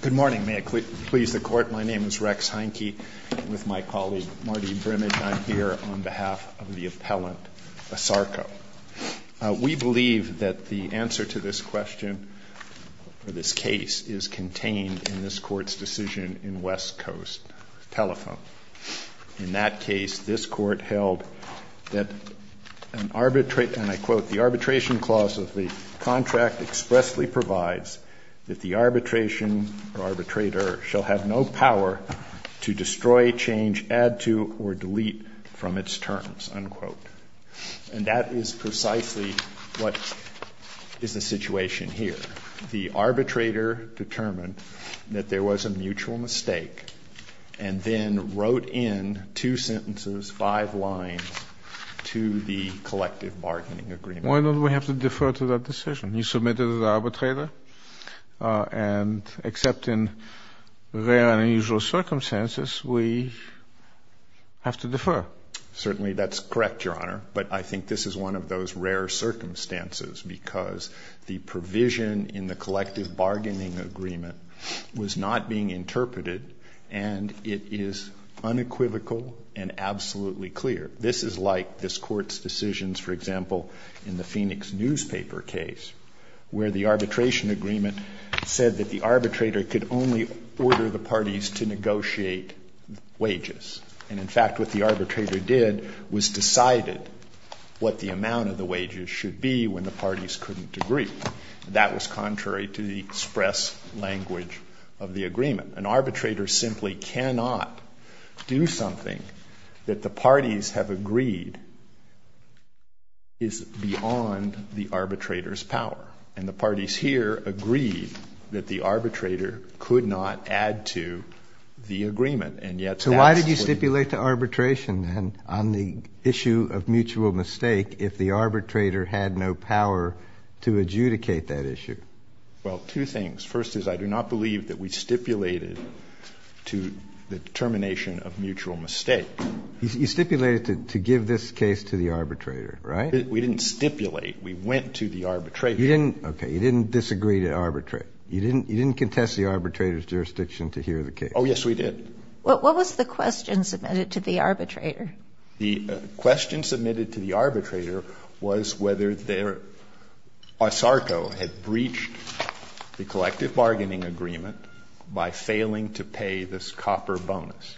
Good morning. May it please the Court, my name is Rex Heineke with my colleague Marty Brimmage. I'm here on behalf of the appellant ASARCO. We believe that the answer to this question, or this case, is contained in this Court's decision in West Coast Telephone. In that case, this Court held that an arbitrate, and I quote, the arbitration clause of the contract expressly provides that the arbitration or arbitrator shall have no power to destroy, change, add to, or delete from its terms, unquote. And that is precisely what is the situation here. The arbitrator determined that there was a mutual mistake, and then wrote in two sentences, five lines, to the collective bargaining agreement. Why don't we have to defer to that decision? You submitted it to the arbitrator, and except in rare and unusual circumstances, we have to defer. Well, certainly that's correct, Your Honor, but I think this is one of those rare circumstances, because the provision in the collective bargaining agreement was not being interpreted, and it is unequivocal and absolutely clear. This is like this Court's decisions, for example, in the Phoenix newspaper case, where the arbitration agreement said that the arbitrator could only order the parties to negotiate wages. And, in fact, what the arbitrator did was decided what the amount of the wages should be when the parties couldn't agree. That was contrary to the express language of the agreement. An arbitrator simply cannot do something that the parties have agreed is beyond the arbitrator's power. And the parties here agreed that the arbitrator could not add to the agreement, and yet that's what they did. You didn't stipulate to arbitration, then, on the issue of mutual mistake if the arbitrator had no power to adjudicate that issue. Well, two things. First is I do not believe that we stipulated to the termination of mutual mistake. You stipulated to give this case to the arbitrator, right? We didn't stipulate. We went to the arbitrator. Okay. You didn't disagree to arbitrate. You didn't contest the arbitrator's jurisdiction to hear the case. Oh, yes, we did. What was the question submitted to the arbitrator? The question submitted to the arbitrator was whether ASARCO had breached the collective bargaining agreement by failing to pay this copper bonus.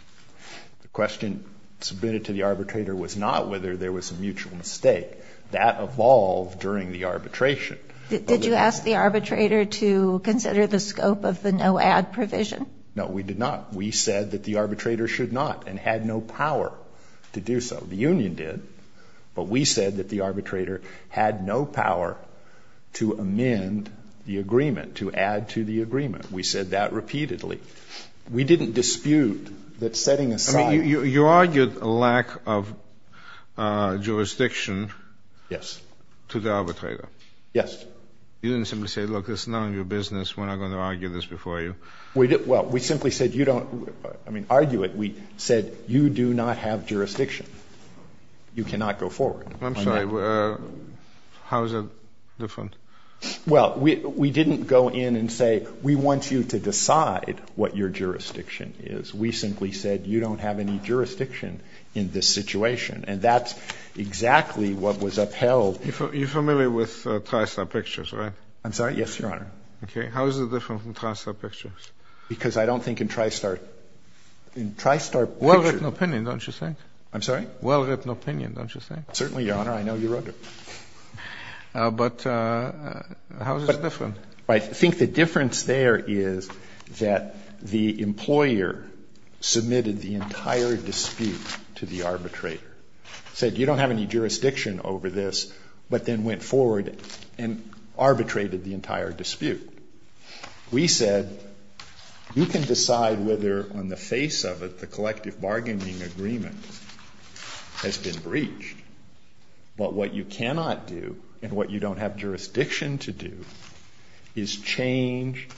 The question submitted to the arbitrator was not whether there was a mutual mistake. That evolved during the arbitration. Did you ask the arbitrator to consider the scope of the no-add provision? No, we did not. We said that the arbitrator should not, and had no power to do so. The union did, but we said that the arbitrator had no power to amend the agreement, to add to the agreement. We said that repeatedly. We didn't dispute that setting aside — I mean, you argued a lack of jurisdiction — Yes. — to the arbitrator. Yes. You didn't simply say, look, it's none of your business, we're not going to argue this before you. Well, we simply said, you don't — I mean, argue it. We said, you do not have jurisdiction. You cannot go forward on that. I'm sorry. How is that different? Well, we didn't go in and say, we want you to decide what your jurisdiction is. We simply said, you don't have any jurisdiction in this situation. And that's exactly what was upheld. You're familiar with TriStar Pictures, right? I'm sorry? Yes, Your Honor. Okay. How is it different from TriStar Pictures? Because I don't think in TriStar — in TriStar Pictures — Well-written opinion, don't you think? I'm sorry? Well-written opinion, don't you think? Certainly, Your Honor. I know you wrote it. But how is it different? I think the difference there is that the employer submitted the entire dispute to the arbitrator, said you don't have any jurisdiction over this, but then went forward and arbitrated the entire dispute. We said, you can decide whether on the face of it the collective bargaining agreement has been breached, but what you cannot do and what you don't have jurisdiction to do is change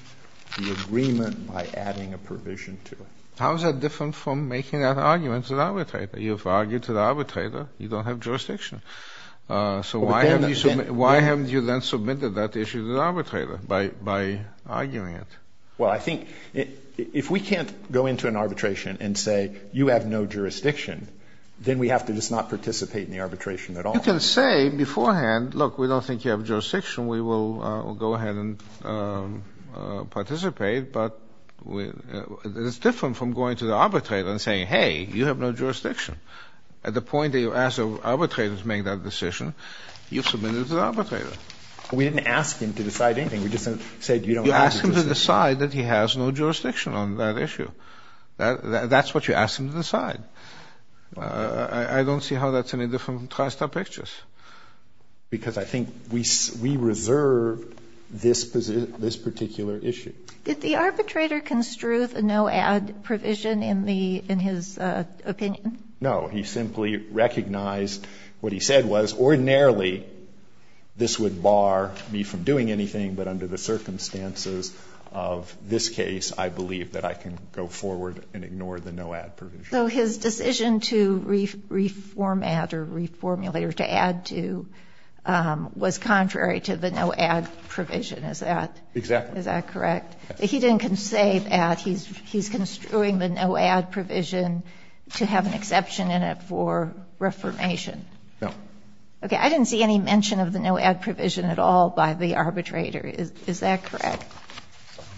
the agreement by adding a provision to it. How is that different from making that argument to the arbitrator? You've argued to the arbitrator. You don't have jurisdiction. So why haven't you then submitted that issue to the arbitrator by arguing it? Well, I think if we can't go into an arbitration and say, you have no jurisdiction, then we have to just not participate in the arbitration at all. You can say beforehand, look, we don't think you have jurisdiction. We will go ahead and participate. But it's different from going to the arbitrator and saying, hey, you have no jurisdiction. At the point that you ask the arbitrator to make that decision, you submit it to the arbitrator. We didn't ask him to decide anything. We just said you don't have jurisdiction. You ask him to decide that he has no jurisdiction on that issue. That's what you ask him to decide. I don't see how that's any different from trying to stop pictures. Because I think we reserve this particular issue. Did the arbitrator construe the no-add provision in his opinion? No. He simply recognized what he said was ordinarily this would bar me from doing anything. But under the circumstances of this case, I believe that I can go forward and ignore the no-add provision. So his decision to reformat or reformulate or to add to was contrary to the no-add provision. Is that correct? Exactly. But he didn't say that. He's construing the no-add provision to have an exception in it for reformation. No. Okay. I didn't see any mention of the no-add provision at all by the arbitrator. Is that correct?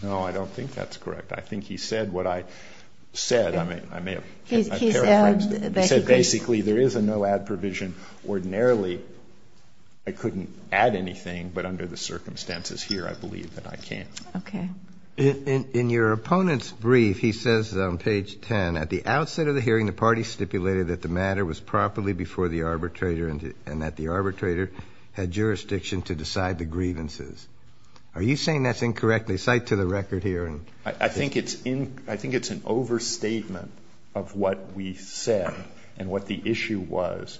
No, I don't think that's correct. I think he said what I said. I may have paraphrased it. He said basically there is a no-add provision. Ordinarily I couldn't add anything. But under the circumstances here, I believe that I can. Okay. In your opponent's brief, he says on page 10, At the outset of the hearing, the party stipulated that the matter was properly before the arbitrator and that the arbitrator had jurisdiction to decide the grievances. Are you saying that's incorrect? They cite to the record here. I think it's an overstatement of what we said and what the issue was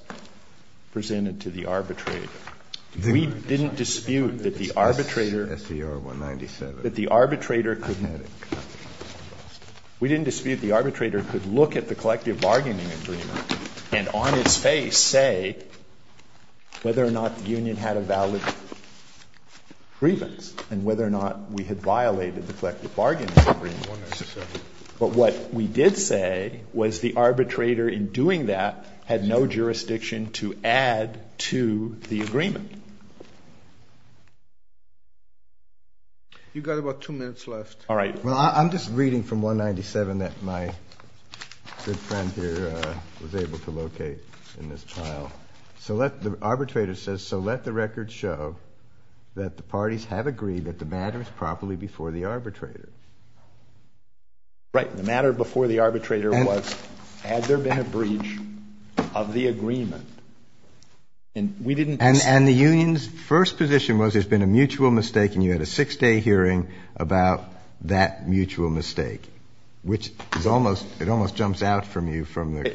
presented to the arbitrator. We didn't dispute that the arbitrator. SCR 197. We didn't dispute the arbitrator could look at the collective bargaining agreement and on its face say whether or not the union had a valid grievance and whether or not we had violated the collective bargaining agreement. But what we did say was the arbitrator in doing that had no jurisdiction to add to the agreement. You've got about two minutes left. All right. Well, I'm just reading from 197 that my good friend here was able to locate in this pile. The arbitrator says, So let the record show that the parties have agreed that the matter is properly before the arbitrator. Right. The matter before the arbitrator was had there been a breach of the agreement. And the union's first position was there's been a mutual mistake and you had a six-day hearing about that mutual mistake, which it almost jumps out from you from the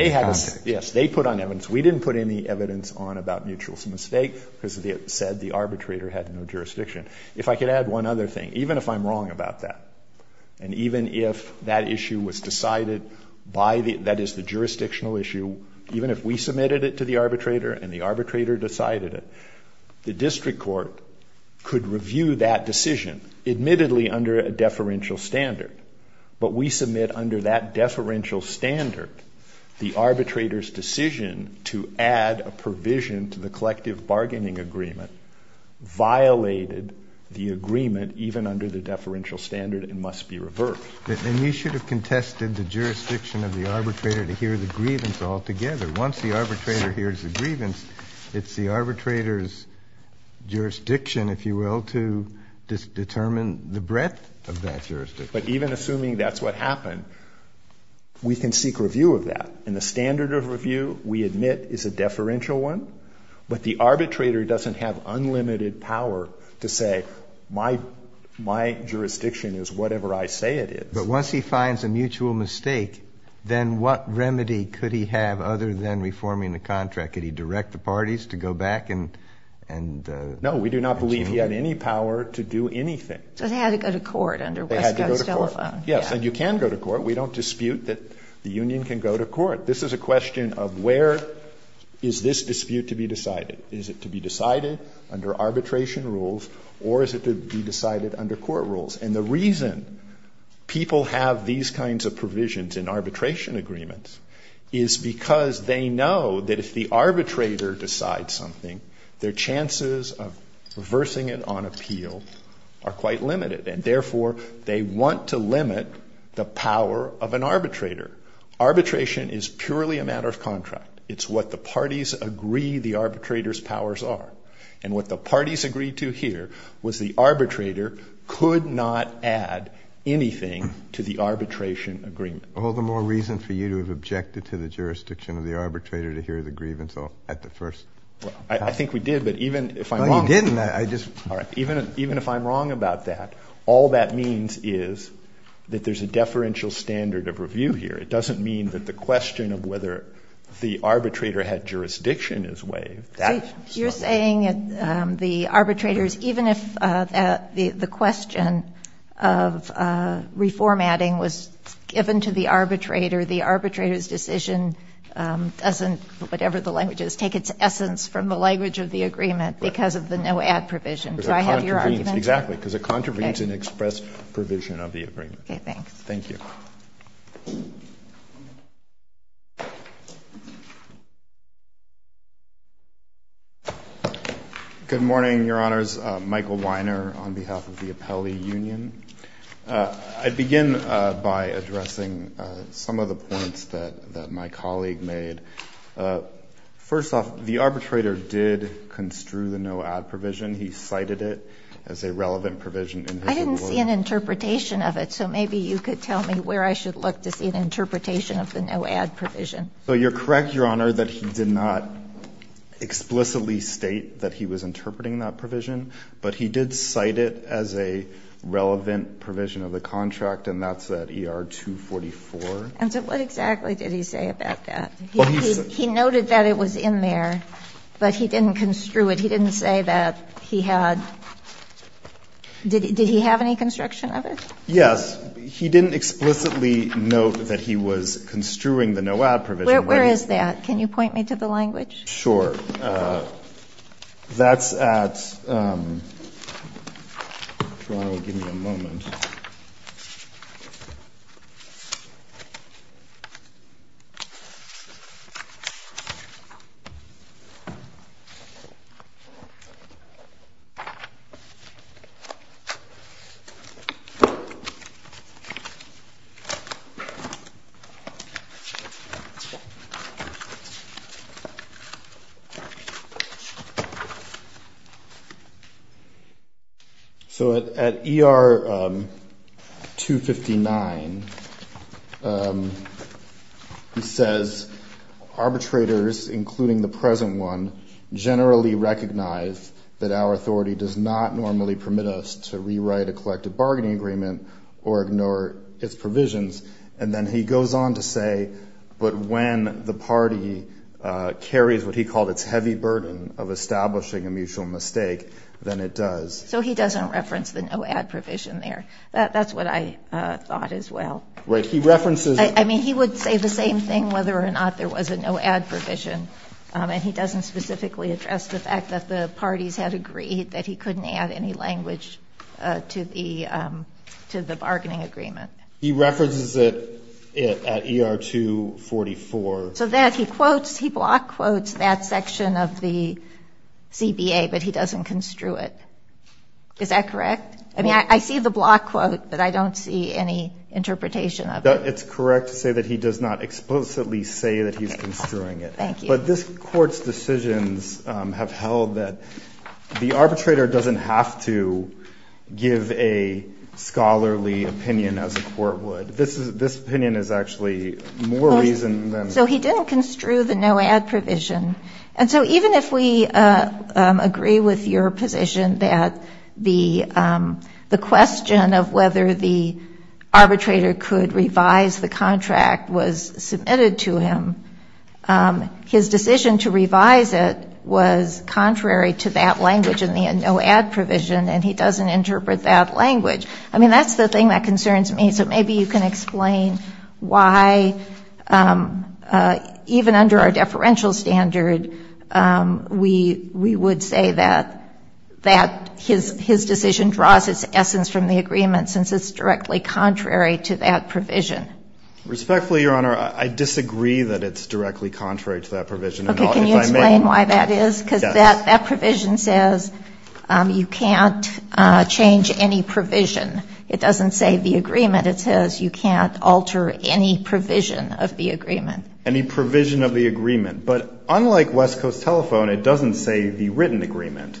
context. Yes. They put on evidence. We didn't put any evidence on about mutual mistake because it said the arbitrator had no jurisdiction. If I could add one other thing, even if I'm wrong about that, and even if that issue was decided by the, that is the jurisdictional issue, even if we submitted it to the arbitrator and the arbitrator decided it, the district court could review that decision, admittedly under a deferential standard. But we submit under that deferential standard the arbitrator's decision to add a provision to the collective bargaining agreement violated the agreement even under the deferential standard and must be reversed. And you should have contested the jurisdiction of the arbitrator to hear the grievance altogether. Once the arbitrator hears the grievance, it's the arbitrator's jurisdiction, if you will, to determine the breadth of that jurisdiction. But even assuming that's what happened, we can seek review of that. And the standard of review, we admit, is a deferential one. But the arbitrator doesn't have unlimited power to say, my jurisdiction is whatever I say it is. But once he finds a mutual mistake, then what remedy could he have other than reforming the contract? Could he direct the parties to go back and change it? No. We do not believe he had any power to do anything. So they had to go to court under Wesco's telephone. They had to go to court. Yes. And you can go to court. We don't dispute that the union can go to court. This is a question of where is this dispute to be decided. Is it to be decided under arbitration rules, or is it to be decided under court rules? And the reason people have these kinds of provisions in arbitration agreements is because they know that if the arbitrator decides something, their chances of reversing it on appeal are quite limited. And therefore, they want to limit the power of an arbitrator. Arbitration is purely a matter of contract. It's what the parties agree the arbitrator's powers are. And what the parties agreed to here was the arbitrator could not add anything to the arbitration agreement. All the more reason for you to have objected to the jurisdiction of the arbitrator to hear the grievance at the first. I think we did, but even if I'm wrong. No, you didn't. All right, even if I'm wrong about that, all that means is that there's a deferential standard of review here. It doesn't mean that the question of whether the arbitrator had jurisdiction is waived. You're saying that the arbitrators, even if the question of reformatting was given to the arbitrator, the arbitrator's decision doesn't, whatever the language is, take its essence from the language of the agreement because of the no-add provision. Do I have your argument? Exactly, because it contravenes an express provision of the agreement. Okay, thanks. Thank you. Thank you. Good morning, Your Honors. Michael Weiner on behalf of the Appellee Union. I'd begin by addressing some of the points that my colleague made. First off, the arbitrator did construe the no-add provision. He cited it as a relevant provision. I didn't see an interpretation of it, so maybe you could tell me where I should look to see an interpretation of the no-add provision. You're correct, Your Honor, that he did not explicitly state that he was interpreting that provision, but he did cite it as a relevant provision of the contract, and that's at ER 244. And so what exactly did he say about that? He noted that it was in there, but he didn't construe it. He didn't say that he had – did he have any construction of it? Yes. He didn't explicitly note that he was construing the no-add provision. Where is that? Can you point me to the language? Sure. That's at – if Your Honor will give me a moment. So at ER 259, he says, arbitrators, including the present one, generally recognize that our authority does not normally permit us to rewrite a collective bargaining agreement or ignore its provisions. And then he goes on to say, but when the party carries what he called its heavy burden of establishing a mutual mistake, then it does. So he doesn't reference the no-add provision there. That's what I thought as well. Right. He references it. I mean, he would say the same thing whether or not there was a no-add provision, and he doesn't specifically address the fact that the parties had agreed that he couldn't add any language to the – to the bargaining agreement. He references it at ER 244. So that he quotes – he block quotes that section of the CBA, but he doesn't construe it. Is that correct? I mean, I see the block quote, but I don't see any interpretation of it. It's correct to say that he does not explicitly say that he's construing it. Thank you. But this Court's decisions have held that the arbitrator doesn't have to give a scholarly opinion as a court would. This is – this opinion is actually more reason than – So he didn't construe the no-add provision. And so even if we agree with your position that the question of whether the arbitrator could revise the contract was submitted to him, his decision to revise it was contrary to that language in the no-add provision, and he doesn't interpret that language. I mean, that's the thing that concerns me. So maybe you can explain why, even under our deferential standard, we would say that his decision draws its essence from the agreement, since it's directly contrary to that provision. Respectfully, Your Honor, I disagree that it's directly contrary to that provision. Can you explain why that is? Yes. That provision says you can't change any provision. It doesn't say the agreement. It says you can't alter any provision of the agreement. Any provision of the agreement. But unlike West Coast Telephone, it doesn't say the written agreement.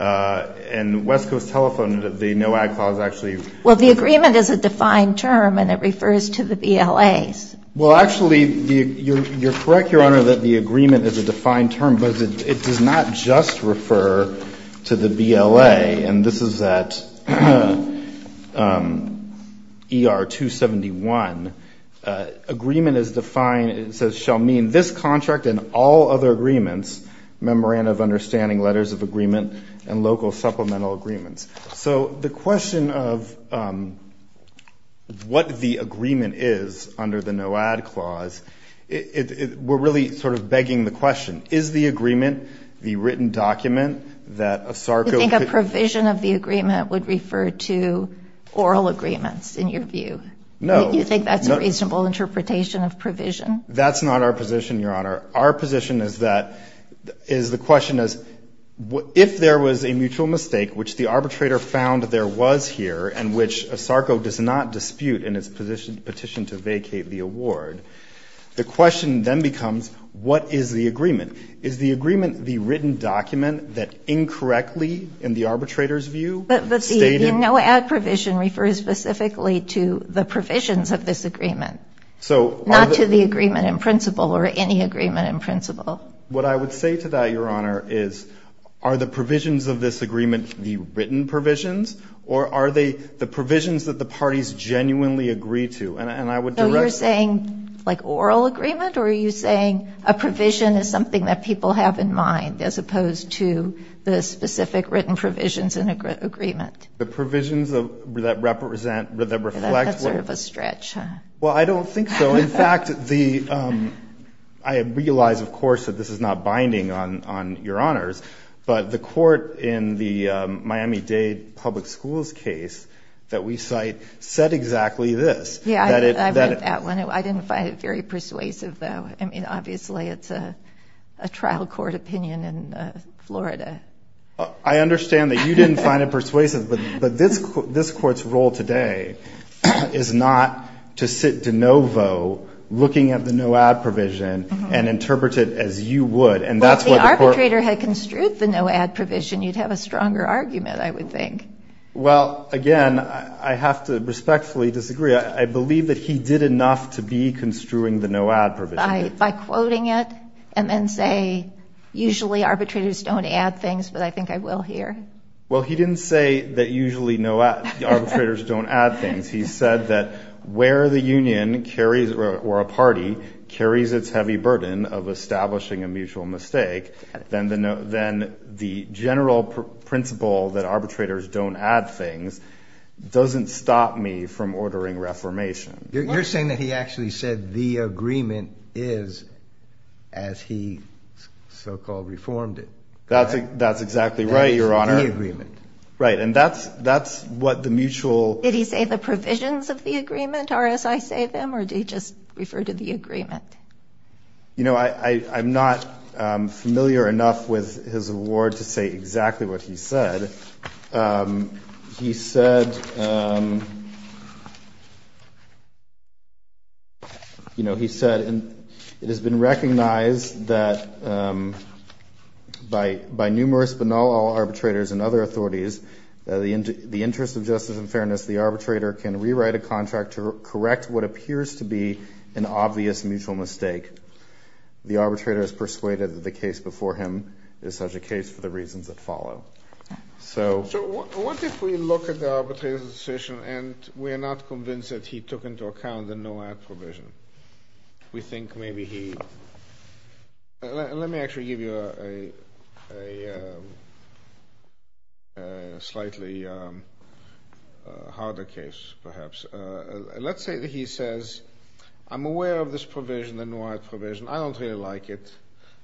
And West Coast Telephone, the no-add clause actually – Well, the agreement is a defined term, and it refers to the BLAs. Well, actually, you're correct, Your Honor, that the agreement is a defined term, but it does not just refer to the BLA. And this is at ER 271. Agreement is defined – it says shall mean this contract and all other agreements, memorandum of understanding, letters of agreement, and local supplemental agreements. So the question of what the agreement is under the no-add clause, we're really sort of begging the question. Is the agreement the written document that ASARCO – Do you think a provision of the agreement would refer to oral agreements, in your view? No. Do you think that's a reasonable interpretation of provision? That's not our position, Your Honor. Our position is that – is the question is if there was a mutual mistake, which the arbitrator found there was here and which ASARCO does not dispute in its petition to vacate the award, the question then becomes what is the agreement? Is the agreement the written document that incorrectly, in the arbitrator's view, stated – But the no-add provision refers specifically to the provisions of this agreement, not to the agreement in principle or any agreement in principle. What I would say to that, Your Honor, is are the provisions of this agreement the written provisions, or are they the provisions that the parties genuinely agree to? And I would – So you're saying like oral agreement, or are you saying a provision is something that people have in mind as opposed to the specific written provisions in agreement? The provisions that represent – that reflect – That's sort of a stretch, huh? Well, I don't think so. In fact, the – I realize, of course, that this is not binding on Your Honors, but the court in the Miami-Dade Public Schools case that we cite said exactly this. Yeah, I read that one. I didn't find it very persuasive, though. I mean, obviously, it's a trial court opinion in Florida. I understand that you didn't find it persuasive, but this court's role today is not to sit de novo looking at the no-add provision and interpret it as you would. Well, if the arbitrator had construed the no-add provision, you'd have a stronger argument, I would think. Well, again, I have to respectfully disagree. I believe that he did enough to be construing the no-add provision. By quoting it and then say, usually arbitrators don't add things, but I think I will here? Well, he didn't say that usually no – arbitrators don't add things. He said that where the union carries – or a party carries its heavy burden of establishing a mutual mistake, then the general principle that arbitrators don't add things doesn't stop me from ordering reformation. You're saying that he actually said the agreement is as he so-called reformed it. That's exactly right, Your Honor. The agreement. Right, and that's what the mutual – Did he say the provisions of the agreement are as I say them, or did he just refer to the agreement? You know, I'm not familiar enough with his award to say exactly what he said. He said – you know, he said it has been recognized that by numerous but not all arbitrators and other authorities, the interest of justice and fairness, the arbitrator can rewrite a contract to correct what appears to be an obvious mutual mistake. The arbitrator is persuaded that the case before him is such a case for the reasons that follow. So what if we look at the arbitrator's decision and we are not convinced that he took into account the no-add provision? We think maybe he – let me actually give you a slightly harder case perhaps. Let's say that he says, I'm aware of this provision, the no-add provision. I don't really like it.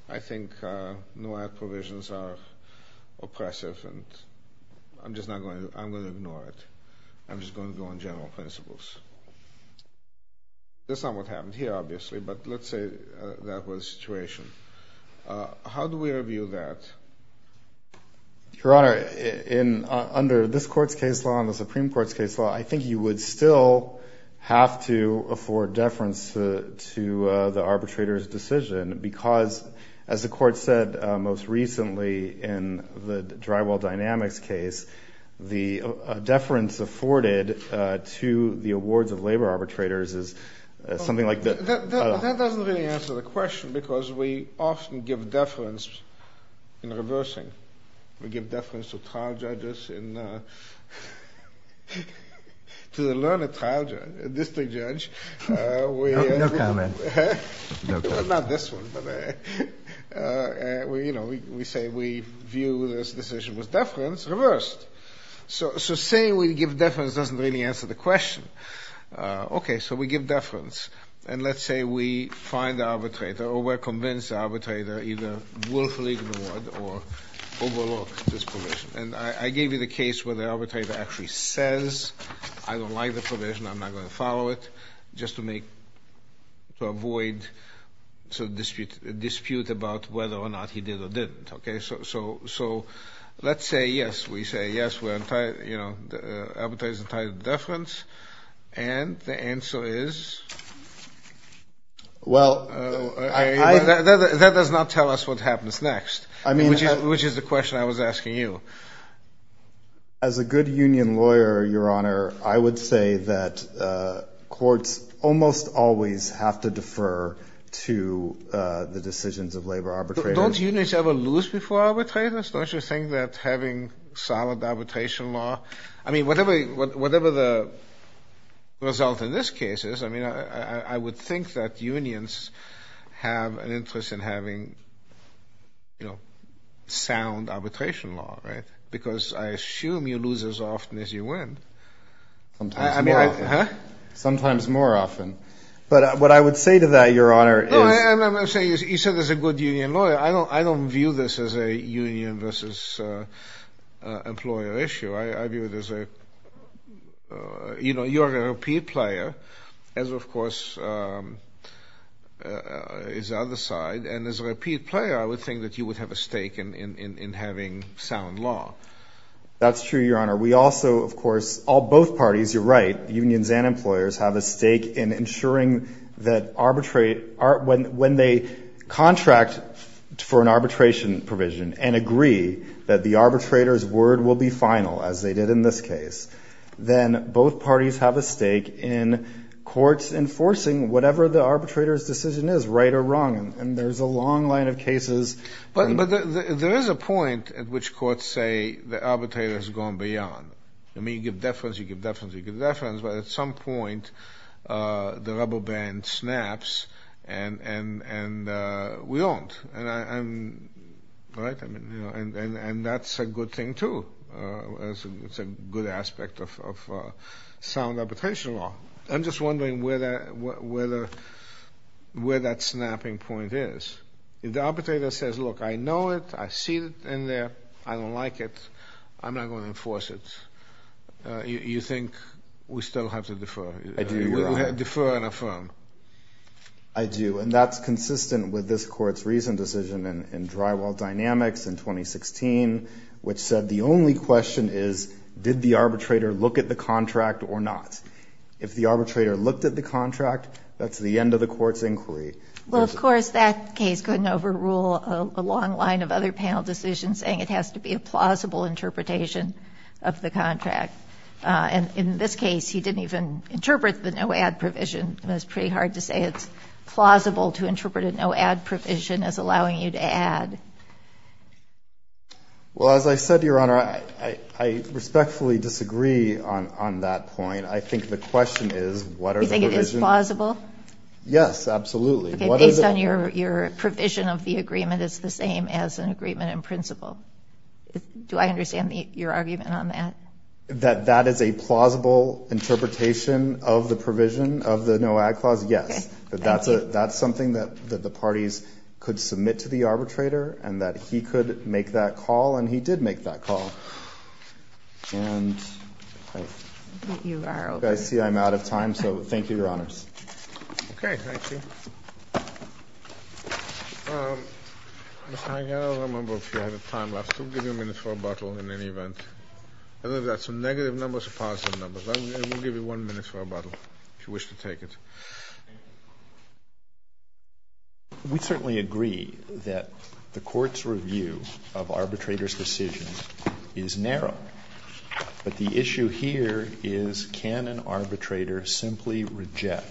I think no-add provisions are oppressive, and I'm just not going to – I'm going to ignore it. I'm just going to go on general principles. That's not what happened here obviously, but let's say that was the situation. How do we review that? Your Honor, under this Court's case law and the Supreme Court's case law, I think you would still have to afford deference to the arbitrator's decision because, as the Court said most recently in the Drywall Dynamics case, the deference afforded to the awards of labor arbitrators is something like – That doesn't really answer the question because we often give deference in reversing. We give deference to trial judges in – to the learned trial judge, district judge. No comment. Not this one. We say we view this decision with deference reversed. So saying we give deference doesn't really answer the question. Okay, so we give deference, and let's say we find the arbitrator or we're convinced the arbitrator either willfully ignored or overlooked this provision. And I gave you the case where the arbitrator actually says, I don't like the provision, I'm not going to follow it, just to avoid a dispute about whether or not he did or didn't. So let's say, yes, we say, yes, the arbitrator is entitled to deference, and the answer is? Well, I – That does not tell us what happens next, which is the question I was asking you. As a good union lawyer, Your Honor, I would say that courts almost always have to defer to the decisions of labor arbitrators. Don't unions ever lose before arbitrators? Don't you think that having solid arbitration law – I mean, whatever the result in this case is, I mean, I would think that unions have an interest in having, you know, sound arbitration law, right? Because I assume you lose as often as you win. Sometimes more often. Huh? Sometimes more often. But what I would say to that, Your Honor, is – No, I'm not saying – you said as a good union lawyer, I don't view this as a union versus employer issue. I view it as a – you know, you're a repeat player, as, of course, is the other side, and as a repeat player, I would think that you would have a stake in having sound law. That's true, Your Honor. We also, of course, all – both parties, you're right, unions and employers, have a stake in ensuring that arbitrate – when they contract for an arbitration provision and agree that the arbitrator's word will be final, as they did in this case, then both parties have a stake in courts enforcing whatever the arbitrator's decision is, right or wrong. And there's a long line of cases – But there is a point at which courts say the arbitrator has gone beyond. I mean, you give deference, you give deference, you give deference, but at some point the rubber band snaps and we aren't, right? And that's a good thing, too. It's a good aspect of sound arbitration law. I'm just wondering where that snapping point is. If the arbitrator says, look, I know it, I see it in there, I don't like it, I'm not going to enforce it. You think we still have to defer? I do, Your Honor. Defer and affirm. I do. And that's consistent with this Court's recent decision in Drywall Dynamics in 2016, which said the only question is did the arbitrator look at the contract or not? If the arbitrator looked at the contract, that's the end of the court's inquiry. Well, of course, that case couldn't overrule a long line of other panel decisions saying it has to be a plausible interpretation of the contract. And in this case, he didn't even interpret the no-add provision. It's pretty hard to say it's plausible to interpret a no-add provision as allowing you to add. Well, as I said, Your Honor, I respectfully disagree on that point. I think the question is what are the provisions? You think it is plausible? Yes, absolutely. Based on your provision of the agreement, it's the same as an agreement in principle. Do I understand your argument on that? That that is a plausible interpretation of the provision of the no-add clause? Yes. That's something that the parties could submit to the arbitrator and that he could make that call, and he did make that call. Okay. Thank you. I don't remember if you had a time lapse. We'll give you a minute for rebuttal in any event. I don't know if that's a negative number or a positive number. We'll give you one minute for rebuttal, if you wish to take it. We certainly agree that the Court's review of arbitrators' decisions is narrow. But the issue here is can an arbitrator simply reject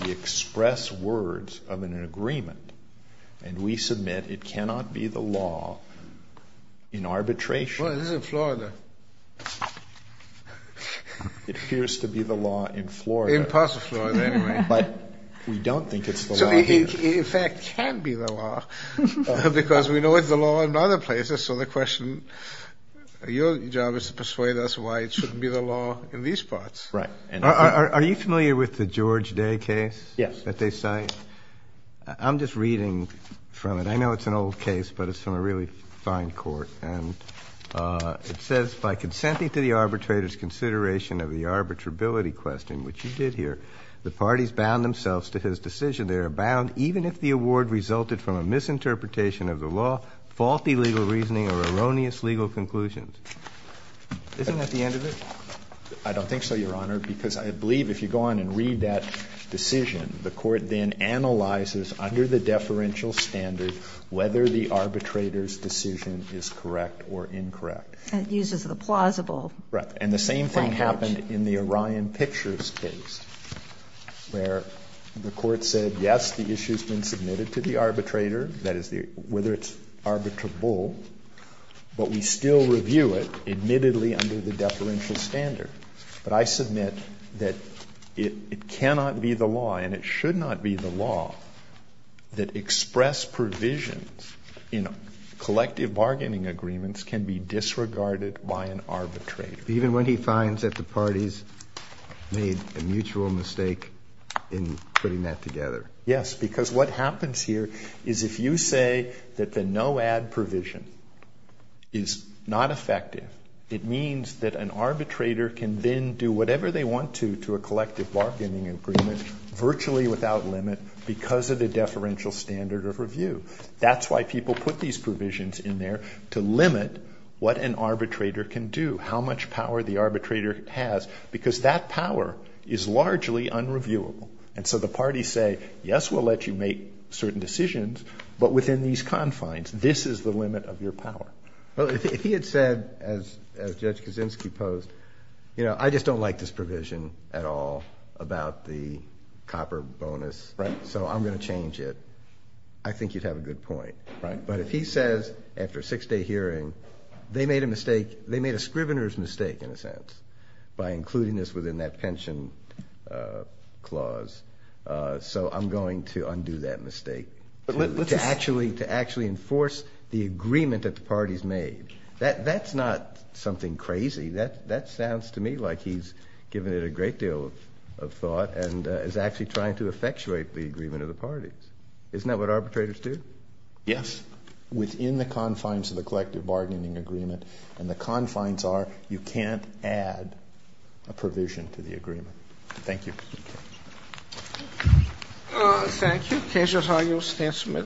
the express words of an agreement and we submit it cannot be the law in arbitration? Well, this is in Florida. It appears to be the law in Florida. In parts of Florida, anyway. But we don't think it's the law here. In fact, it can be the law because we know it's the law in other places. So the question, your job is to persuade us why it shouldn't be the law in these parts. Right. Are you familiar with the George Day case that they cite? Yes. I'm just reading from it. I know it's an old case, but it's from a really fine court. And it says, By consenting to the arbitrator's consideration of the arbitrability question, which you did here, the parties bound themselves to his decision. They are bound, even if the award resulted from a misinterpretation of the law, faulty legal reasoning or erroneous legal conclusions. Isn't that the end of it? I don't think so, Your Honor, because I believe if you go on and read that decision, the court then analyzes under the deferential standard whether the arbitrator's decision is correct or incorrect. That uses the plausible language. Right. And the same thing happened in the Orion Pictures case where the court said, yes, the issue has been submitted to the arbitrator. That is, whether it's arbitrable. But we still review it, admittedly, under the deferential standard. But I submit that it cannot be the law, and it should not be the law, that express provisions in collective bargaining agreements can be disregarded by an arbitrator. Even when he finds that the parties made a mutual mistake in putting that together? Yes. Because what happens here is if you say that the no-add provision is not effective, it means that an arbitrator can then do whatever they want to, to a collective bargaining agreement, virtually without limit, because of the deferential standard of review. That's why people put these provisions in there, to limit what an arbitrator can do, how much power the arbitrator has, because that power is largely unreviewable. And so the parties say, yes, we'll let you make certain decisions, but within these confines, this is the limit of your power. Well, if he had said, as Judge Kaczynski posed, you know, I just don't like this provision at all about the copper bonus, so I'm going to change it, I think you'd have a good point. Right. But if he says, after a six-day hearing, they made a mistake, they made a scrivener's mistake, in a sense, by including this within that pension clause, so I'm going to undo that mistake, to actually enforce the agreement that the parties made. That's not something crazy. That sounds to me like he's given it a great deal of thought and is actually trying to effectuate the agreement of the parties. Isn't that what arbitrators do? Yes. Within the confines of the collective bargaining agreement, and the confines are you can't add a provision to the agreement. Thank you. Thank you.